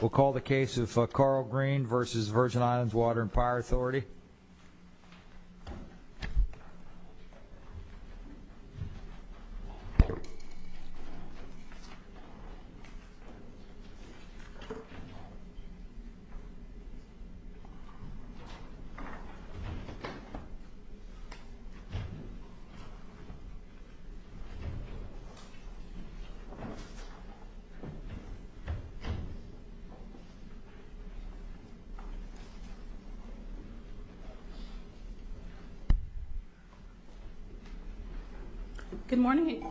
We'll call the case of Carl Greene versus Virgin Islands Water and Power Authority. Good morning.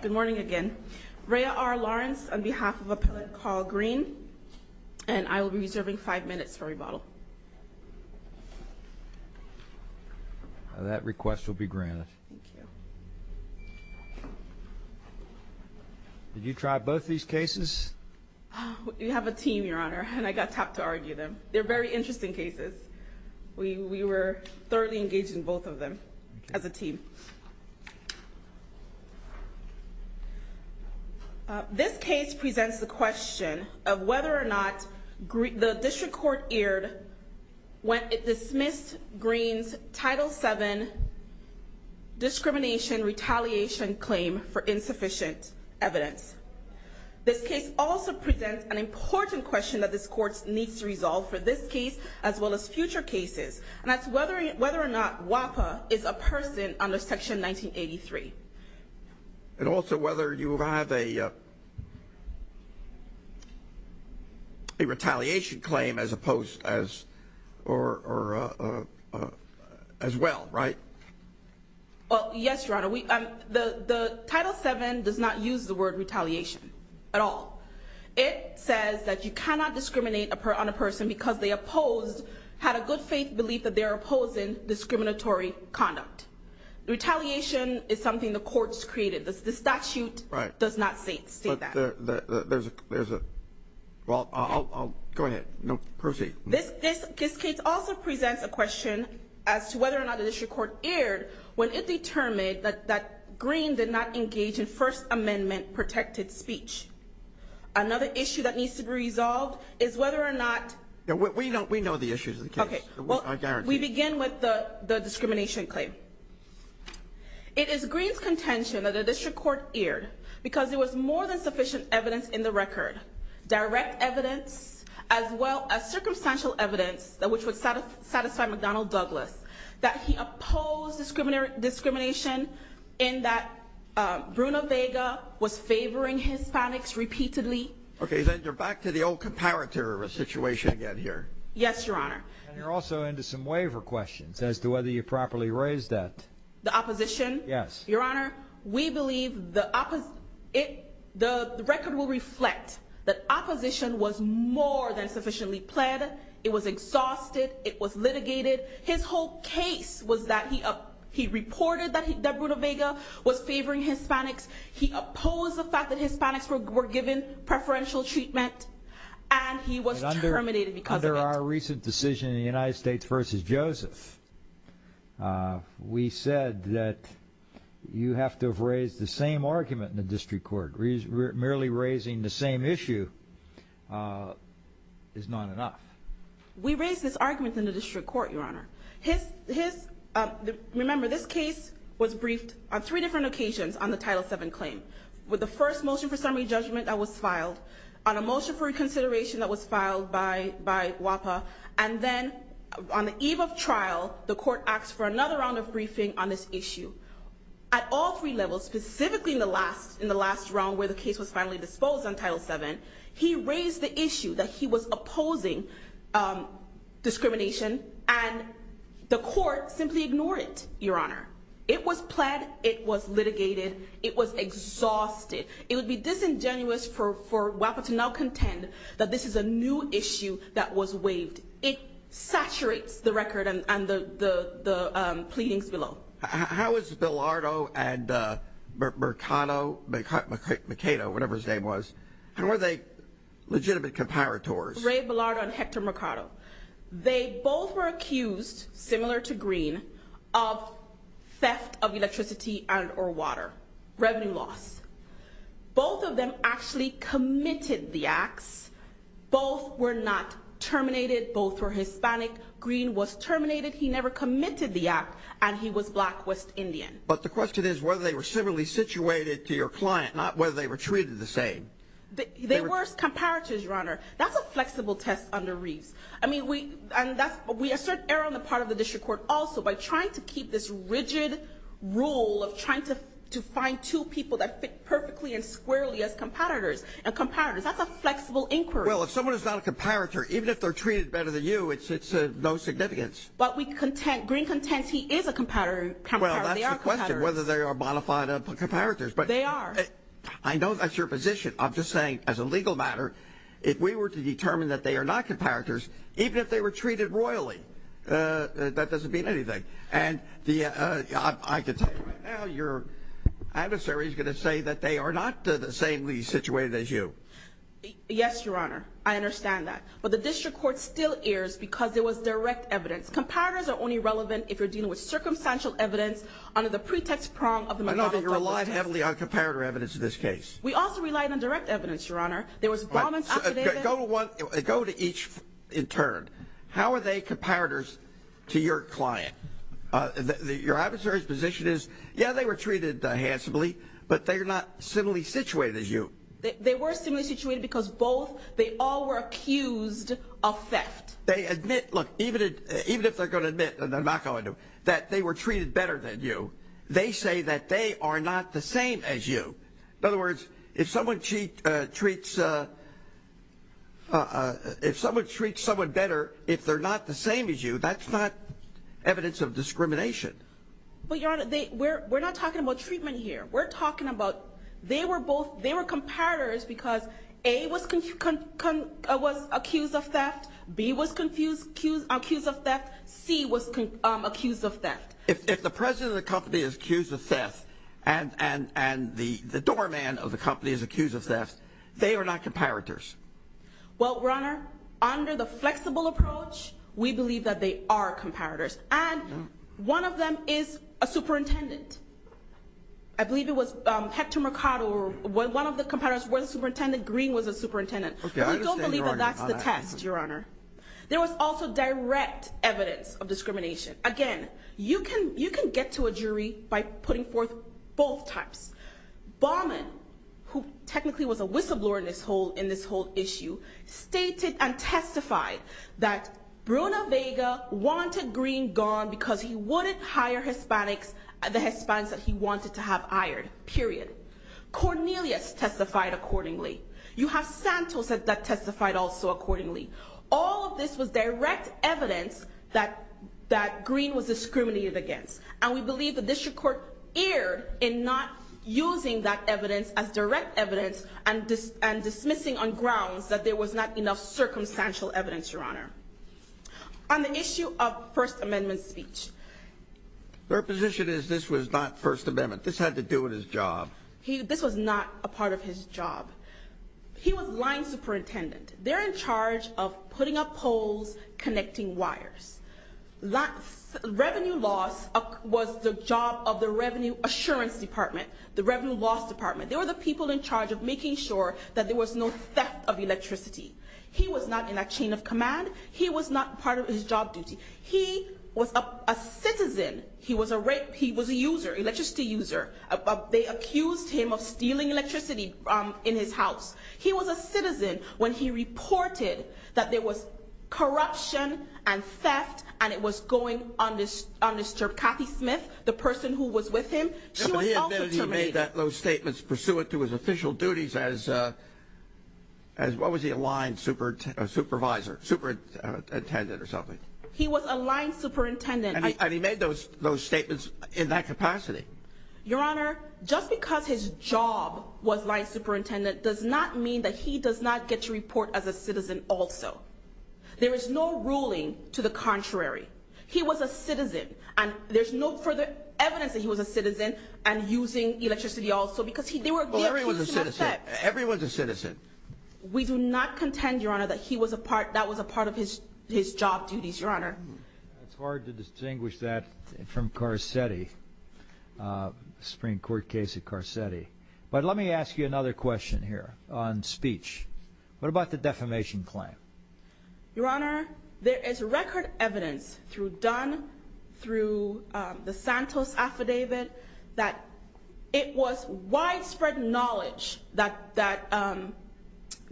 Good morning again. Raya R. Lawrence on behalf of Appellate Carl Greene. And I will be reserving five minutes for rebuttal. That request will be granted. Thank you. Did you try both these cases? We have a team, Your Honor, and I got tapped to argue them. They're very interesting cases. We were thoroughly engaged in both of them as a team. This case presents the question of whether or not the district court erred when it dismissed Greene's Title VII discrimination retaliation claim for insufficient evidence. This case also presents an important question that this court needs to resolve for this case as well as future cases. And that's whether or not WAPA is a person under Section 1983. And also whether you have a retaliation claim as opposed as or as well, right? Well, yes, Your Honor. The Title VII does not use the word retaliation at all. It says that you cannot discriminate on a person because they opposed, had a good faith belief that they're opposing discriminatory conduct. Retaliation is something the courts created. The statute does not state that. There's a, well, go ahead. Proceed. This case also presents a question as to whether or not the district court erred when it determined that Greene did not engage in First Amendment protected speech. Another issue that needs to be resolved is whether or not... We know the issues of the case. I guarantee you. We begin with the discrimination claim. It is Greene's contention that the district court erred because there was more than sufficient evidence in the record. Direct evidence as well as circumstantial evidence which would satisfy McDonnell Douglas that he opposed discrimination in that Bruno Vega was favoring Hispanics repeatedly. Okay, then you're back to the old comparator situation again here. Yes, Your Honor. And you're also into some waiver questions as to whether you properly raised that. The opposition? Yes. Your Honor, we believe the record will reflect that opposition was more than sufficiently pled. It was exhausted. It was litigated. His whole case was that he reported that Bruno Vega was favoring Hispanics. He opposed the fact that Hispanics were given preferential treatment and he was terminated because of it. In our recent decision in the United States v. Joseph, we said that you have to have raised the same argument in the district court. Merely raising the same issue is not enough. We raised this argument in the district court, Your Honor. Remember, this case was briefed on three different occasions on the Title VII claim. With the first motion for summary judgment that was filed, on a motion for reconsideration that was filed by WAPA, and then on the eve of trial, the court asked for another round of briefing on this issue. At all three levels, specifically in the last round where the case was finally disposed on Title VII, he raised the issue that he was opposing discrimination and the court simply ignored it, Your Honor. It was pled, it was litigated, it was exhausted. It would be disingenuous for WAPA to now contend that this is a new issue that was waived. It saturates the record and the pleadings below. How is Bilardo and Mercado, whatever his name was, and were they legitimate comparators? Ray Bilardo and Hector Mercado. They both were accused, similar to Green, of theft of electricity and or water, revenue loss. Both of them actually committed the acts. Both were not terminated. Both were Hispanic. Green was terminated. He never committed the act, and he was black, West Indian. But the question is whether they were similarly situated to your client, not whether they were treated the same. They were comparators, Your Honor. That's a flexible test under Reeves. I mean, we assert error on the part of the district court also by trying to keep this rigid rule of trying to find two people that fit perfectly and squarely as comparators. And comparators, that's a flexible inquiry. Well, if someone is not a comparator, even if they're treated better than you, it's of no significance. But Green contends he is a comparator. Well, that's the question, whether they are bona fide comparators. They are. I know that's your position. I'm just saying, as a legal matter, if we were to determine that they are not comparators, even if they were treated royally, that doesn't mean anything. And I can tell you right now, your adversary is going to say that they are not the samely situated as you. Yes, Your Honor. I understand that. But the district court still errs because it was direct evidence. Comparators are only relevant if you're dealing with circumstantial evidence under the pretext prong of the McDonald-Douglas test. I know that you relied heavily on comparator evidence in this case. We also relied on direct evidence, Your Honor. There was bombings. Go to each in turn. How are they comparators to your client? Your adversary's position is, yeah, they were treated handsomely, but they're not similarly situated as you. They were similarly situated because both, they all were accused of theft. Look, even if they're going to admit, and they're not going to, that they were treated better than you, they say that they are not the same as you. In other words, if someone treats someone better if they're not the same as you, that's not evidence of discrimination. But, Your Honor, we're not talking about treatment here. We're talking about they were comparators because A was accused of theft, B was accused of theft, C was accused of theft. If the president of the company is accused of theft and the doorman of the company is accused of theft, they are not comparators. Well, Your Honor, under the flexible approach, we believe that they are comparators. And one of them is a superintendent. I believe it was Hector Mercado, one of the comparators was a superintendent, Green was a superintendent. But we don't believe that that's the test, Your Honor. There was also direct evidence of discrimination. Again, you can get to a jury by putting forth both types. Baumann, who technically was a whistleblower in this whole issue, stated and testified that Bruna Vega wanted Green gone because he wouldn't hire the Hispanics that he wanted to have hired, period. Cornelius testified accordingly. You have Santos that testified also accordingly. All of this was direct evidence that Green was discriminated against, and we believe the district court erred in not using that evidence as direct evidence and dismissing on grounds that there was not enough circumstantial evidence, Your Honor. On the issue of First Amendment speech. Their position is this was not First Amendment. This had to do with his job. This was not a part of his job. He was lying superintendent. They're in charge of putting up poles, connecting wires. Revenue loss was the job of the Revenue Assurance Department, the Revenue Loss Department. They were the people in charge of making sure that there was no theft of electricity. He was not in a chain of command. He was not part of his job duty. He was a citizen. He was a user, electricity user. They accused him of stealing electricity in his house. He was a citizen when he reported that there was corruption and theft, and it was going on to disturb Kathy Smith, the person who was with him. She was also terminated. He admitted he made those statements pursuant to his official duties as what was he? A line supervisor, superintendent or something. He was a line superintendent. And he made those statements in that capacity. Your Honor, just because his job was line superintendent does not mean that he does not get to report as a citizen also. There is no ruling to the contrary. He was a citizen, and there's no further evidence that he was a citizen and using electricity also because they were the accused in the theft. Everyone's a citizen. We do not contend, Your Honor, that that was a part of his job duties, Your Honor. It's hard to distinguish that from Carcetti, the Supreme Court case of Carcetti. But let me ask you another question here on speech. What about the defamation claim? Your Honor, there is record evidence through Dunn, through the Santos affidavit, that it was widespread knowledge that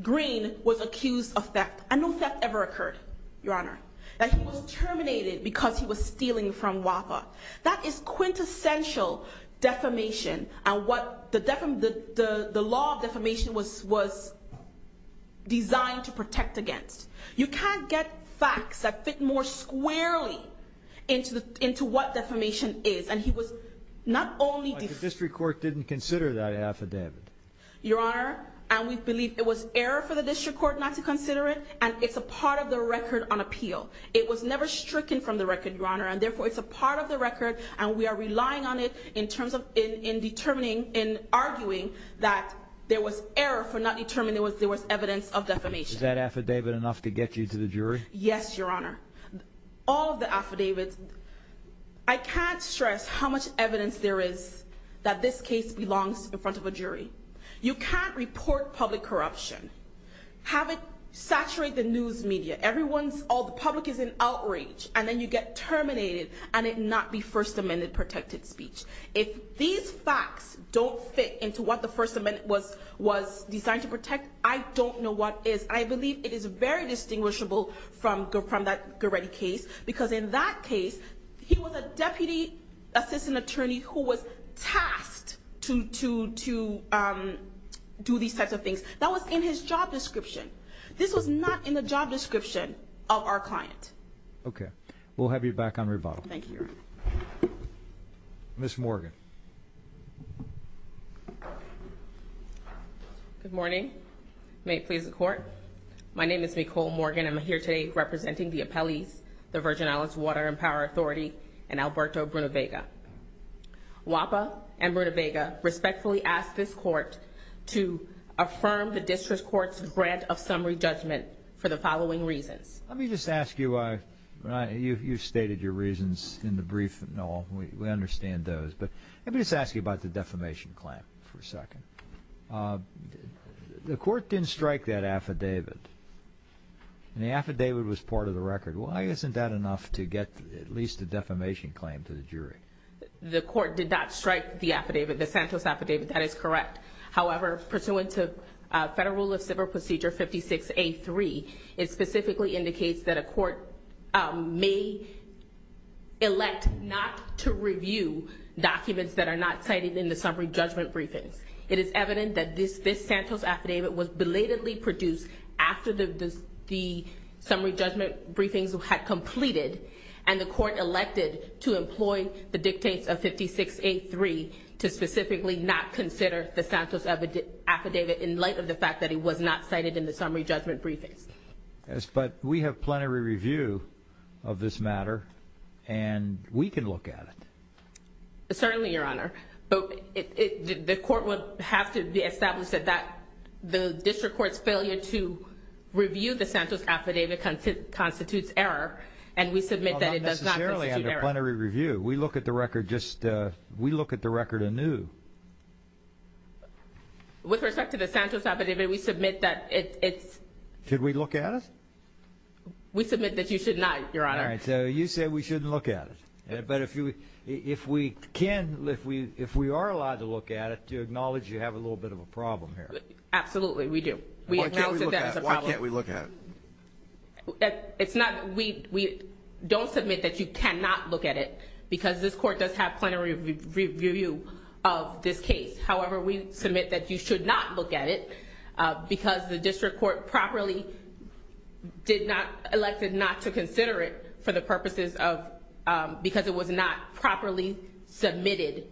Green was accused of theft. And no theft ever occurred, Your Honor. That he was terminated because he was stealing from WAPA. That is quintessential defamation and what the law of defamation was designed to protect against. You can't get facts that fit more squarely into what defamation is. And he was not only defamed. But the district court didn't consider that affidavit. Your Honor, and we believe it was error for the district court not to consider it, and it's a part of the record on appeal. It was never stricken from the record, Your Honor. And therefore, it's a part of the record, and we are relying on it in terms of, in determining, in arguing that there was error for not determining there was evidence of defamation. Is that affidavit enough to get you to the jury? Yes, Your Honor. All of the affidavits, I can't stress how much evidence there is that this case belongs in front of a jury. You can't report public corruption. Have it saturate the news media. Everyone's, all the public is in outrage. And then you get terminated, and it not be First Amendment protected speech. If these facts don't fit into what the First Amendment was designed to protect, I don't know what is. I believe it is very distinguishable from that Goretti case. Because in that case, he was a deputy assistant attorney who was tasked to do these types of things. That was in his job description. This was not in the job description of our client. Okay. We'll have you back on rebuttal. Thank you, Your Honor. Ms. Morgan. Good morning. May it please the Court. My name is Nicole Morgan. I'm here today representing the appellees, the Virgin Islands Water and Power Authority, and Alberto Brunivega. WAPA and Brunivega respectfully ask this Court to affirm the District Court's grant of summary judgment for the following reasons. Let me just ask you, you stated your reasons in the brief. No, we understand those. But let me just ask you about the defamation claim for a second. The Court didn't strike that affidavit. And the affidavit was part of the record. Why isn't that enough to get at least a defamation claim to the jury? The Court did not strike the affidavit, the Santos affidavit. That is correct. However, pursuant to Federal Rule of Civil Procedure 56A3, it specifically indicates that a court may elect not to review documents that are not cited in the summary judgment briefings. It is evident that this Santos affidavit was belatedly produced after the summary judgment briefings had completed, and the Court elected to employ the dictates of 56A3 to specifically not consider the Santos affidavit in light of the fact that it was not cited in the summary judgment briefings. Yes, but we have plenary review of this matter, and we can look at it. Certainly, Your Honor. But the Court would have to establish that the district court's failure to review the Santos affidavit constitutes error, and we submit that it does not constitute error. Well, not necessarily under plenary review. We look at the record anew. With respect to the Santos affidavit, we submit that it's… Should we look at it? We submit that you should not, Your Honor. All right. So you say we shouldn't look at it. But if we can, if we are allowed to look at it, do you acknowledge you have a little bit of a problem here? Absolutely, we do. Why can't we look at it? It's not… We don't submit that you cannot look at it, because this Court does have plenary review of this case. However, we submit that you should not look at it, because the district court properly did not… Elected not to consider it for the purposes of… Because it was not properly submitted.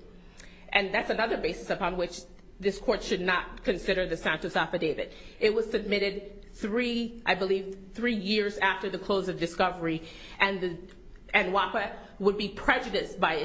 And that's another basis upon which this Court should not consider the Santos affidavit. It was submitted three, I believe, three years after the close of discovery. And WAPA would be prejudiced by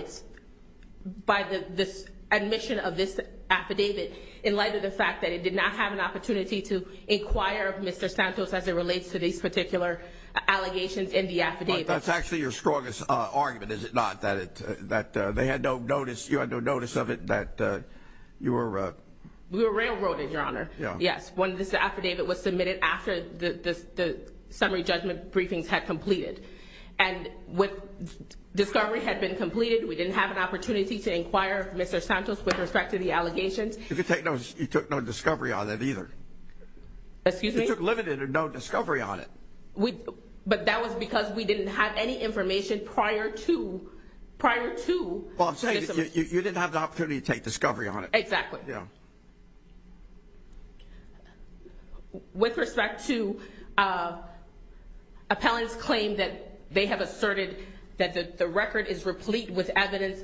the admission of this affidavit in light of the fact that it did not have an opportunity to inquire of Mr. Santos as it relates to these particular allegations in the affidavit. But that's actually your strongest argument, is it not? That they had no notice, you had no notice of it, that you were… We were railroaded, Your Honor. Yes, when this affidavit was submitted after the summary judgment briefings had completed. And when discovery had been completed, we didn't have an opportunity to inquire of Mr. Santos with respect to the allegations. You took no discovery on it either. Excuse me? You took limited or no discovery on it. But that was because we didn't have any information prior to… Well, I'm saying you didn't have the opportunity to take discovery on it. Exactly. With respect to appellant's claim that they have asserted that the record is replete with evidence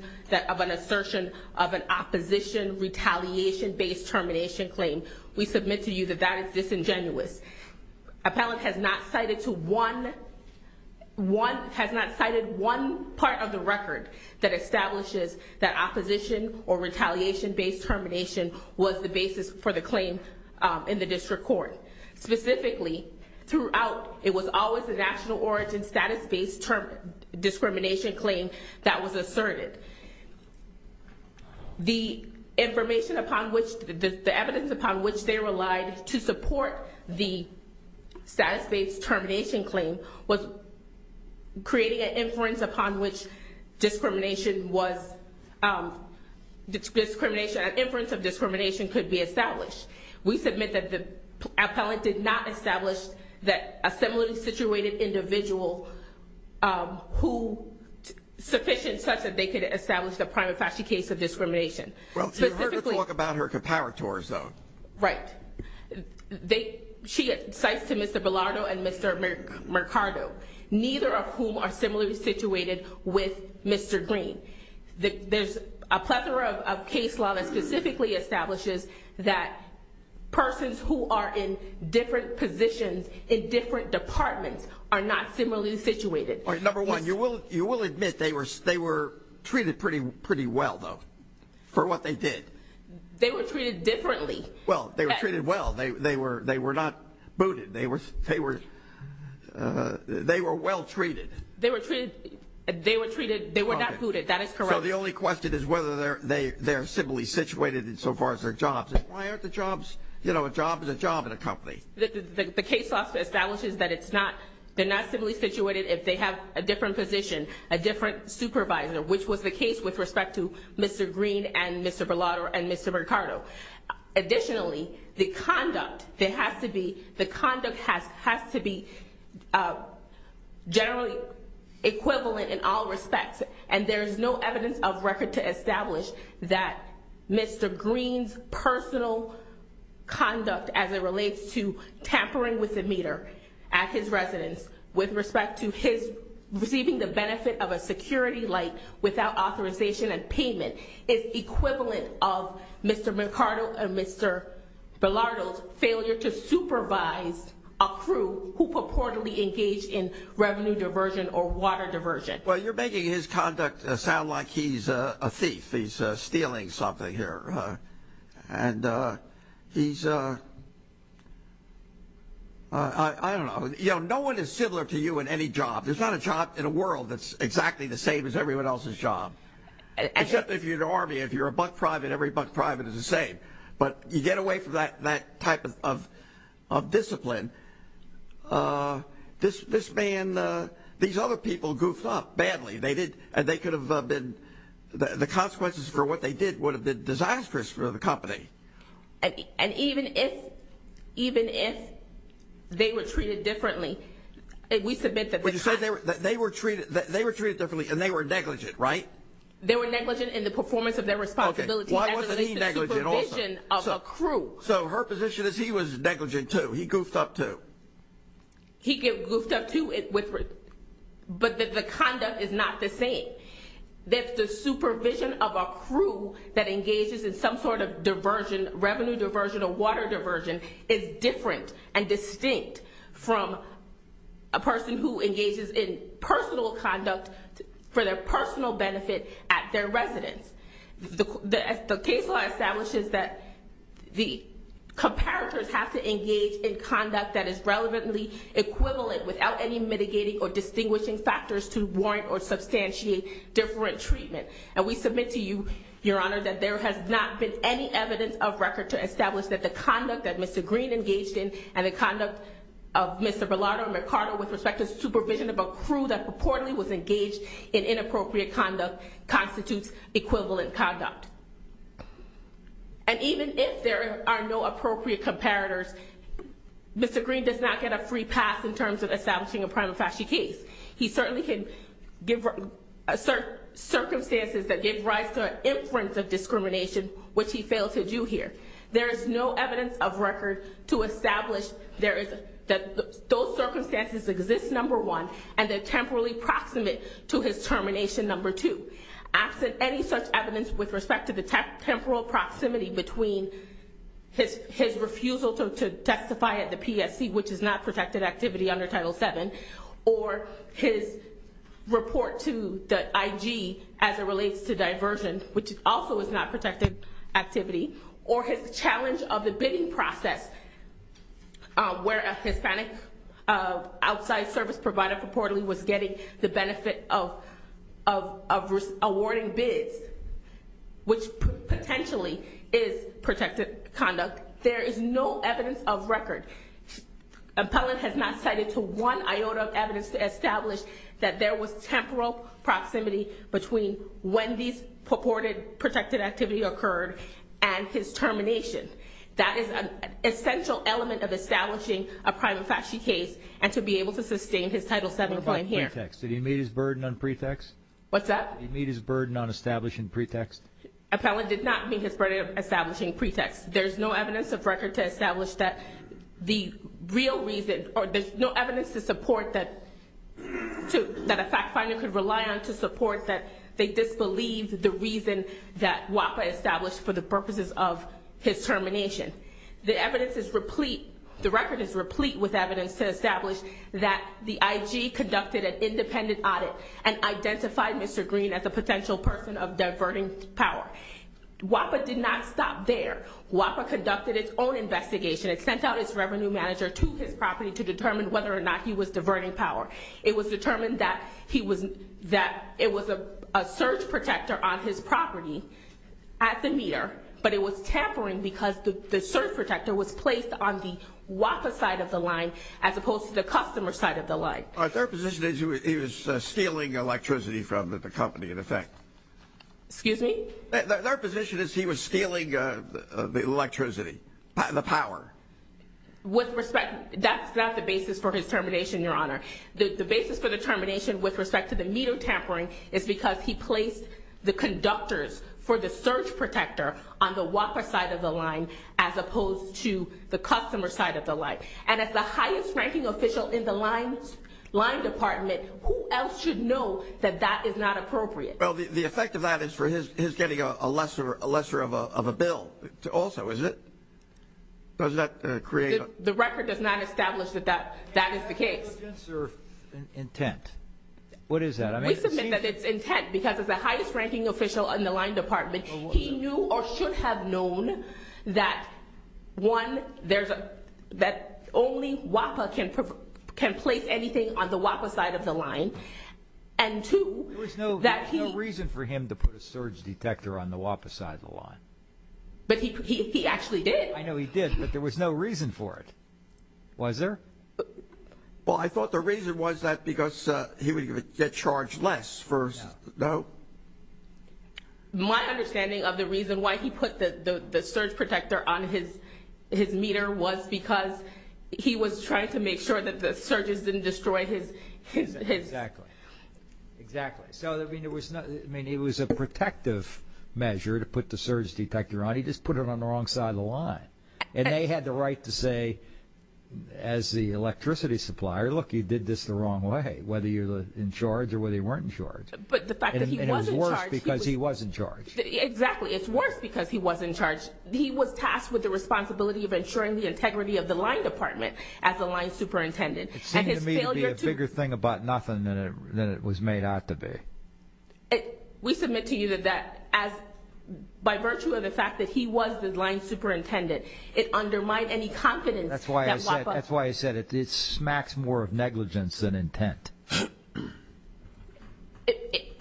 of an assertion of an opposition retaliation-based termination claim, we submit to you that that is disingenuous. Appellant has not cited one part of the record that establishes that opposition or retaliation-based termination was the basis for the claim in the district court. Specifically, throughout, it was always a national origin status-based discrimination claim that was asserted. The information upon which, the evidence upon which they relied to support the status-based termination claim was creating an inference upon which discrimination was, an inference of discrimination could be established. We submit that the appellant did not establish that a similarly situated individual who sufficient such that they could establish the prima facie case of discrimination. Well, you heard her talk about her comparators, though. Right. She cites to Mr. Bilardo and Mr. Mercado, neither of whom are similarly situated with Mr. Green. There's a plethora of case law that specifically establishes that persons who are in different positions in different departments are not similarly situated. Number one, you will admit they were treated pretty well, though, for what they did. They were treated differently. Well, they were treated well. They were not booted. They were well treated. They were treated, they were not booted. That is correct. So the only question is whether they're similarly situated in so far as their jobs. Why aren't the jobs, you know, a job is a job in a company. The case law establishes that it's not, they're not similarly situated if they have a different position, a different supervisor, which was the case with respect to Mr. Green and Mr. Bilardo and Mr. Mercado. Additionally, the conduct that has to be, the conduct has to be generally equivalent in all respects. And there's no evidence of record to establish that Mr. Green's personal conduct as it relates to tampering with the meter at his residence with respect to his receiving the benefit of a security light without authorization and payment is equivalent of Mr. Mercado and Mr. Bilardo's failure to supervise a crew who purportedly engaged in revenue diversion or water diversion. Well, you're making his conduct sound like he's a thief. He's stealing something here. And he's, I don't know. You know, no one is similar to you in any job. There's not a job in the world that's exactly the same as everyone else's job. Except if you're an army, if you're a buck private, every buck private is the same. But you get away from that type of discipline. This man, these other people goofed up badly. They did. And they could have been, the consequences for what they did would have been disastrous for the company. And even if, even if they were treated differently, we submit that the costs. But you said they were treated differently and they were negligent, right? They were negligent in the performance of their responsibilities as it relates to supervision. So her position is he was negligent, too. He goofed up, too. He goofed up, too, but the conduct is not the same. That the supervision of a crew that engages in some sort of diversion, revenue diversion or water diversion, is different and distinct from a person who engages in personal conduct for their personal benefit at their residence. The case law establishes that the comparators have to engage in conduct that is relevantly equivalent without any mitigating or distinguishing factors to warrant or substantiate different treatment. And we submit to you, Your Honor, that there has not been any evidence of record to establish that the conduct that Mr. Green engaged in and the conduct of Mr. Bilardo and McCarter with respect to supervision of a crew that purportedly was engaged in inappropriate conduct constitutes equivalent conduct. And even if there are no appropriate comparators, Mr. Green does not get a free pass in terms of establishing a prima facie case. He certainly can give circumstances that give rise to an inference of discrimination, which he failed to do here. There is no evidence of record to establish that those circumstances exist, number one, and they're temporally proximate to his termination, number two. Absent any such evidence with respect to the temporal proximity between his refusal to testify at the PSC, which is not protected activity under Title VII, or his report to the IG as it relates to diversion, which also is not protected activity, or his challenge of the bidding process where a Hispanic outside service provider purportedly was getting the benefit of awarding bids, which potentially is protected conduct, there is no evidence of record. Appellant has not cited to one iota of evidence to establish that there was temporal proximity between when these purported protected activity occurred and his termination. That is an essential element of establishing a prima facie case and to be able to sustain his Title VII claim here. Did he meet his burden on pretext? What's that? Did he meet his burden on establishing pretext? Appellant did not meet his burden of establishing pretext. There's no evidence of record to establish that the real reason, or there's no evidence to support that a fact finder could rely on to support that they disbelieve the reason that WAPA established for the purposes of his termination. The record is replete with evidence to establish that the IG conducted an independent audit and identified Mr. Green as a potential person of diverting power. WAPA did not stop there. WAPA conducted its own investigation. It sent out its revenue manager to his property to determine whether or not he was diverting power. It was determined that it was a surge protector on his property at the meter, but it was tampering because the surge protector was placed on the WAPA side of the line as opposed to the customer side of the line. Their position is he was stealing electricity from the company, in effect. Excuse me? Their position is he was stealing electricity, the power. With respect, that's not the basis for his termination, Your Honor. The basis for the termination with respect to the meter tampering is because he placed the conductors for the surge protector on the WAPA side of the line as opposed to the customer side of the line. And as the highest ranking official in the line department, who else should know that that is not appropriate? Well, the effect of that is for his getting a lesser of a bill also, isn't it? The record does not establish that that is the case. That's not against their intent. What is that? We submit that it's intent because as the highest ranking official in the line department, he knew or should have known that, one, that only WAPA can place anything on the WAPA side of the line, and, two, that he— There was no reason for him to put a surge detector on the WAPA side of the line. But he actually did. I know he did, but there was no reason for it, was there? Well, I thought the reason was that because he would get charged less for— No. My understanding of the reason why he put the surge protector on his meter was because he was trying to make sure that the surges didn't destroy his— Exactly. Exactly. So, I mean, it was a protective measure to put the surge detector on. But he just put it on the wrong side of the line. And they had the right to say, as the electricity supplier, look, you did this the wrong way, whether you're in charge or whether you weren't in charge. But the fact that he was in charge— And it was worse because he was in charge. Exactly. It's worse because he was in charge. He was tasked with the responsibility of ensuring the integrity of the line department as the line superintendent. And his failure to— It seemed to me to be a bigger thing about nothing than it was made out to be. We submit to you that by virtue of the fact that he was the line superintendent, it undermined any confidence that— That's why I said it smacks more of negligence than intent. If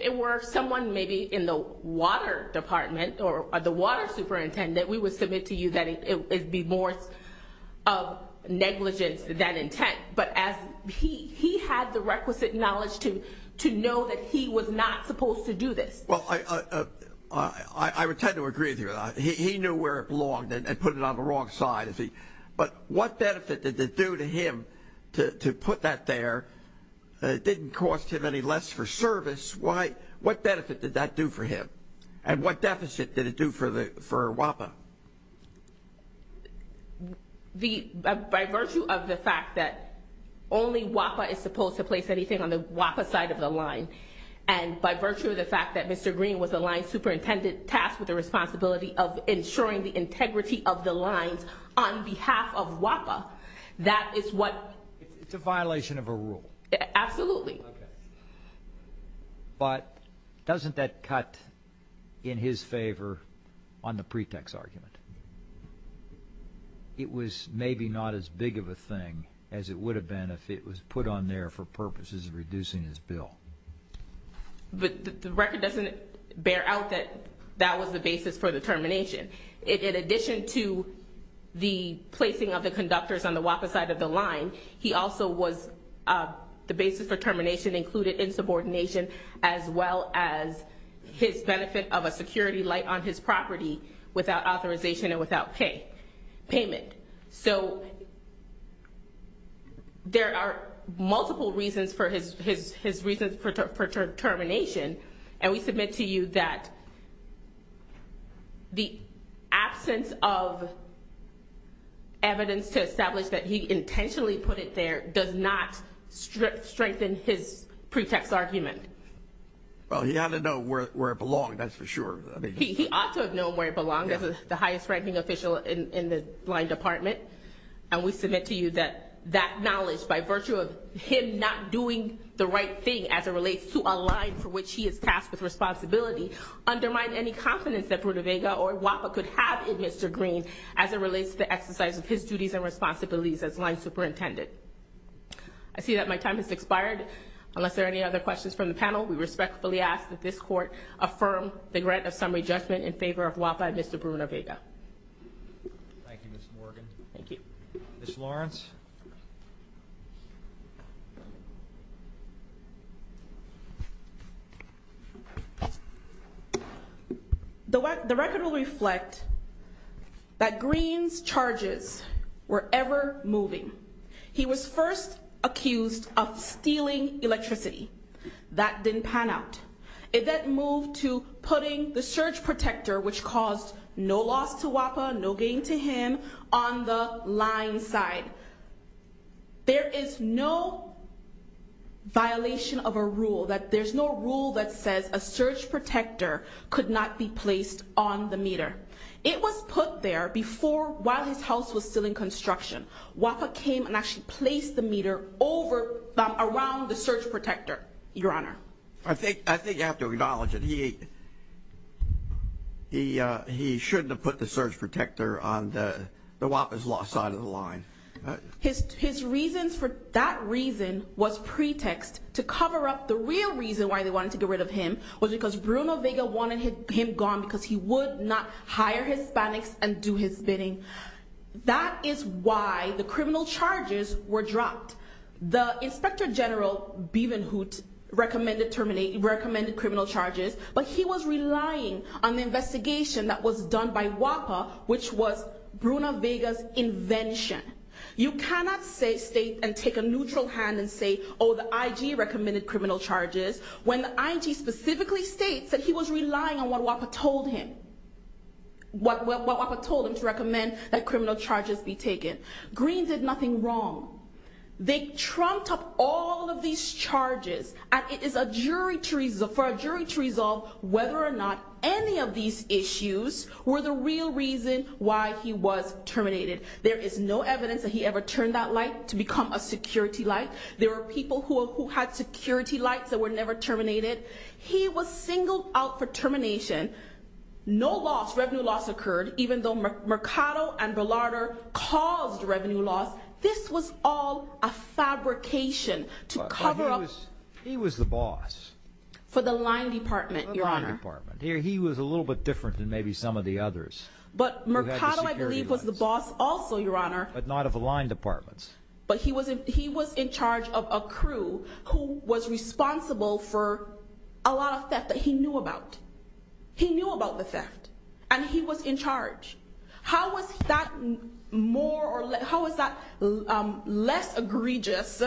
it were someone maybe in the water department or the water superintendent, we would submit to you that it would be more of negligence than intent. But he had the requisite knowledge to know that he was not supposed to do this. Well, I would tend to agree with you on that. He knew where it belonged and put it on the wrong side. But what benefit did it do to him to put that there? It didn't cost him any less for service. What benefit did that do for him? And what deficit did it do for WAPA? By virtue of the fact that only WAPA is supposed to place anything on the WAPA side of the line, and by virtue of the fact that Mr. Green was the line superintendent tasked with the responsibility of ensuring the integrity of the lines on behalf of WAPA, that is what— It's a violation of a rule. Absolutely. Okay. But doesn't that cut in his favor on the pretext argument? It was maybe not as big of a thing as it would have been if it was put on there for purposes of reducing his bill. But the record doesn't bear out that that was the basis for the termination. In addition to the placing of the conductors on the WAPA side of the line, he also was the basis for termination included in subordination, as well as his benefit of a security light on his property without authorization and without payment. So there are multiple reasons for his reasons for termination, and we submit to you that the absence of evidence to establish that he intentionally put it there does not strengthen his pretext argument. Well, he ought to know where it belonged, that's for sure. He ought to have known where it belonged as the highest-ranking official in the line department, and we submit to you that that knowledge, by virtue of him not doing the right thing as it relates to a line for which he is tasked with responsibility, undermined any confidence that Bruno Vega or WAPA could have in Mr. Green as it relates to the exercise of his duties and responsibilities as line superintendent. I see that my time has expired. Unless there are any other questions from the panel, we respectfully ask that this Court affirm the grant of summary judgment in favor of WAPA and Mr. Bruno Vega. Thank you, Ms. Morgan. Thank you. Ms. Lawrence. The record will reflect that Green's charges were ever moving. He was first accused of stealing electricity. That didn't pan out. It then moved to putting the surge protector, which caused no loss to WAPA, no gain to him, on the line side. There is no violation of a rule, that there's no rule that says a surge protector could not be placed on the meter. It was put there before while his house was still in construction. WAPA came and actually placed the meter around the surge protector, Your Honor. I think you have to acknowledge that he shouldn't have put the surge protector on the WAPA's lost side of the line. His reasons for that reason was pretext to cover up the real reason why they wanted to get rid of him, was because Bruno Vega wanted him gone because he would not hire Hispanics and do his bidding. That is why the criminal charges were dropped. The Inspector General, Beaven Hoot, recommended criminal charges, but he was relying on the investigation that was done by WAPA, which was Bruno Vega's invention. You cannot state and take a neutral hand and say, oh, the IG recommended criminal charges, when the IG specifically states that he was relying on what WAPA told him. What WAPA told him to recommend that criminal charges be taken. Green did nothing wrong. They trumped up all of these charges, and it is for a jury to resolve whether or not any of these issues were the real reason why he was terminated. There is no evidence that he ever turned that light to become a security light. There were people who had security lights that were never terminated. He was singled out for termination. No loss, revenue loss occurred, even though Mercado and Berlarder caused revenue loss. This was all a fabrication to cover up. He was the boss. For the line department, Your Honor. He was a little bit different than maybe some of the others. But Mercado, I believe, was the boss also, Your Honor. But not of the line departments. But he was in charge of a crew who was responsible for a lot of theft that he knew about. He knew about the theft. And he was in charge. How was that less egregious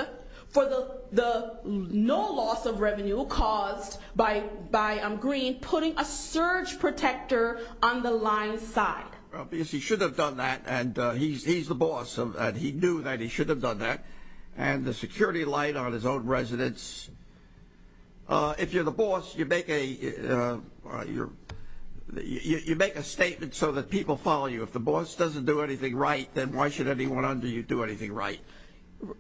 for the no loss of revenue caused by Green putting a surge protector on the line's side? Because he should have done that. And he's the boss, and he knew that he should have done that. And the security light on his own residence. If you're the boss, you make a statement so that people follow you. If the boss doesn't do anything right, then why should anyone under you do anything right?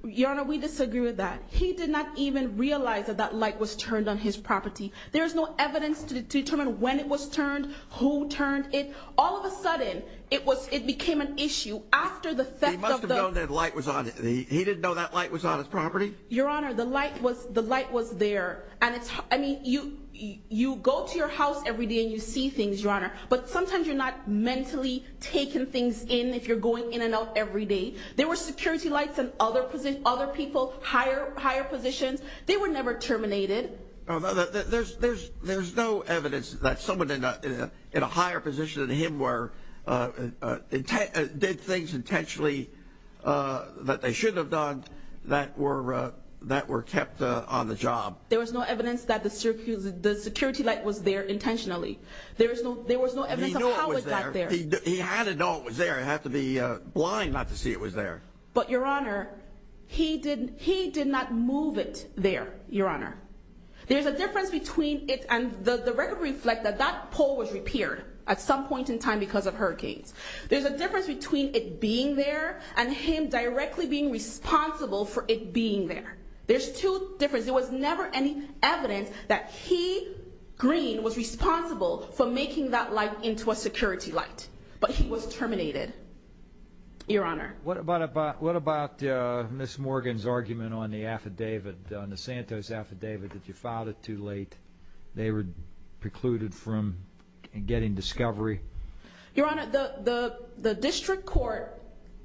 Your Honor, we disagree with that. He did not even realize that that light was turned on his property. There is no evidence to determine when it was turned, who turned it. All of a sudden, it became an issue after the theft of the – He must have known that light was on – he didn't know that light was on his property? Your Honor, the light was there. And it's – I mean, you go to your house every day and you see things, Your Honor. But sometimes you're not mentally taking things in if you're going in and out every day. There were security lights on other people, higher positions. They were never terminated. There's no evidence that someone in a higher position than him were – did things intentionally that they shouldn't have done that were kept on the job. There was no evidence that the security light was there intentionally. There was no evidence of how it got there. He had to know it was there. He had to be blind not to see it was there. But, Your Honor, he did not move it there, Your Honor. There's a difference between it – and the record reflects that that pole was repaired at some point in time because of hurricanes. There's a difference between it being there and him directly being responsible for it being there. There's two differences. There was never any evidence that he, Green, was responsible for making that light into a security light. But he was terminated, Your Honor. What about Ms. Morgan's argument on the affidavit, on the Santos affidavit, that you filed it too late? They were precluded from getting discovery. Your Honor, the district court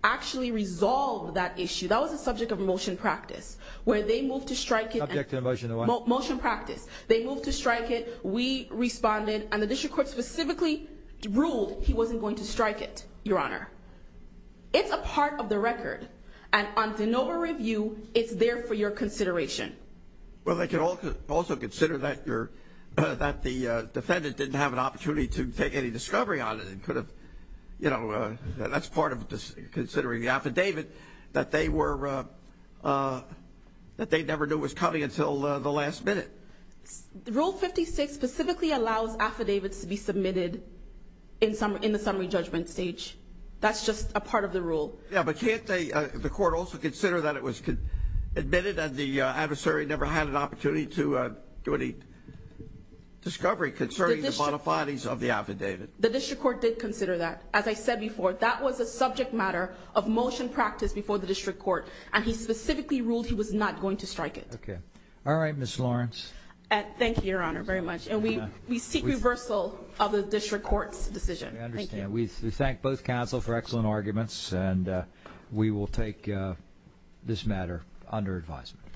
actually resolved that issue. That was the subject of a motion practice where they moved to strike it. Subject to a motion to what? Motion practice. They moved to strike it. We responded, and the district court specifically ruled he wasn't going to strike it, Your Honor. It's a part of the record, and on de novo review, it's there for your consideration. Well, they can also consider that the defendant didn't have an opportunity to take any discovery on it. That's part of considering the affidavit that they never knew was coming until the last minute. Rule 56 specifically allows affidavits to be submitted in the summary judgment stage. That's just a part of the rule. Yeah, but can't the court also consider that it was admitted and the adversary never had an opportunity to do any discovery concerning the modifies of the affidavit? The district court did consider that. As I said before, that was a subject matter of motion practice before the district court, and he specifically ruled he was not going to strike it. Okay. All right, Ms. Lawrence. Thank you, Your Honor, very much, and we seek reversal of the district court's decision. I understand. We thank both counsel for excellent arguments, and we will take this matter under advisement.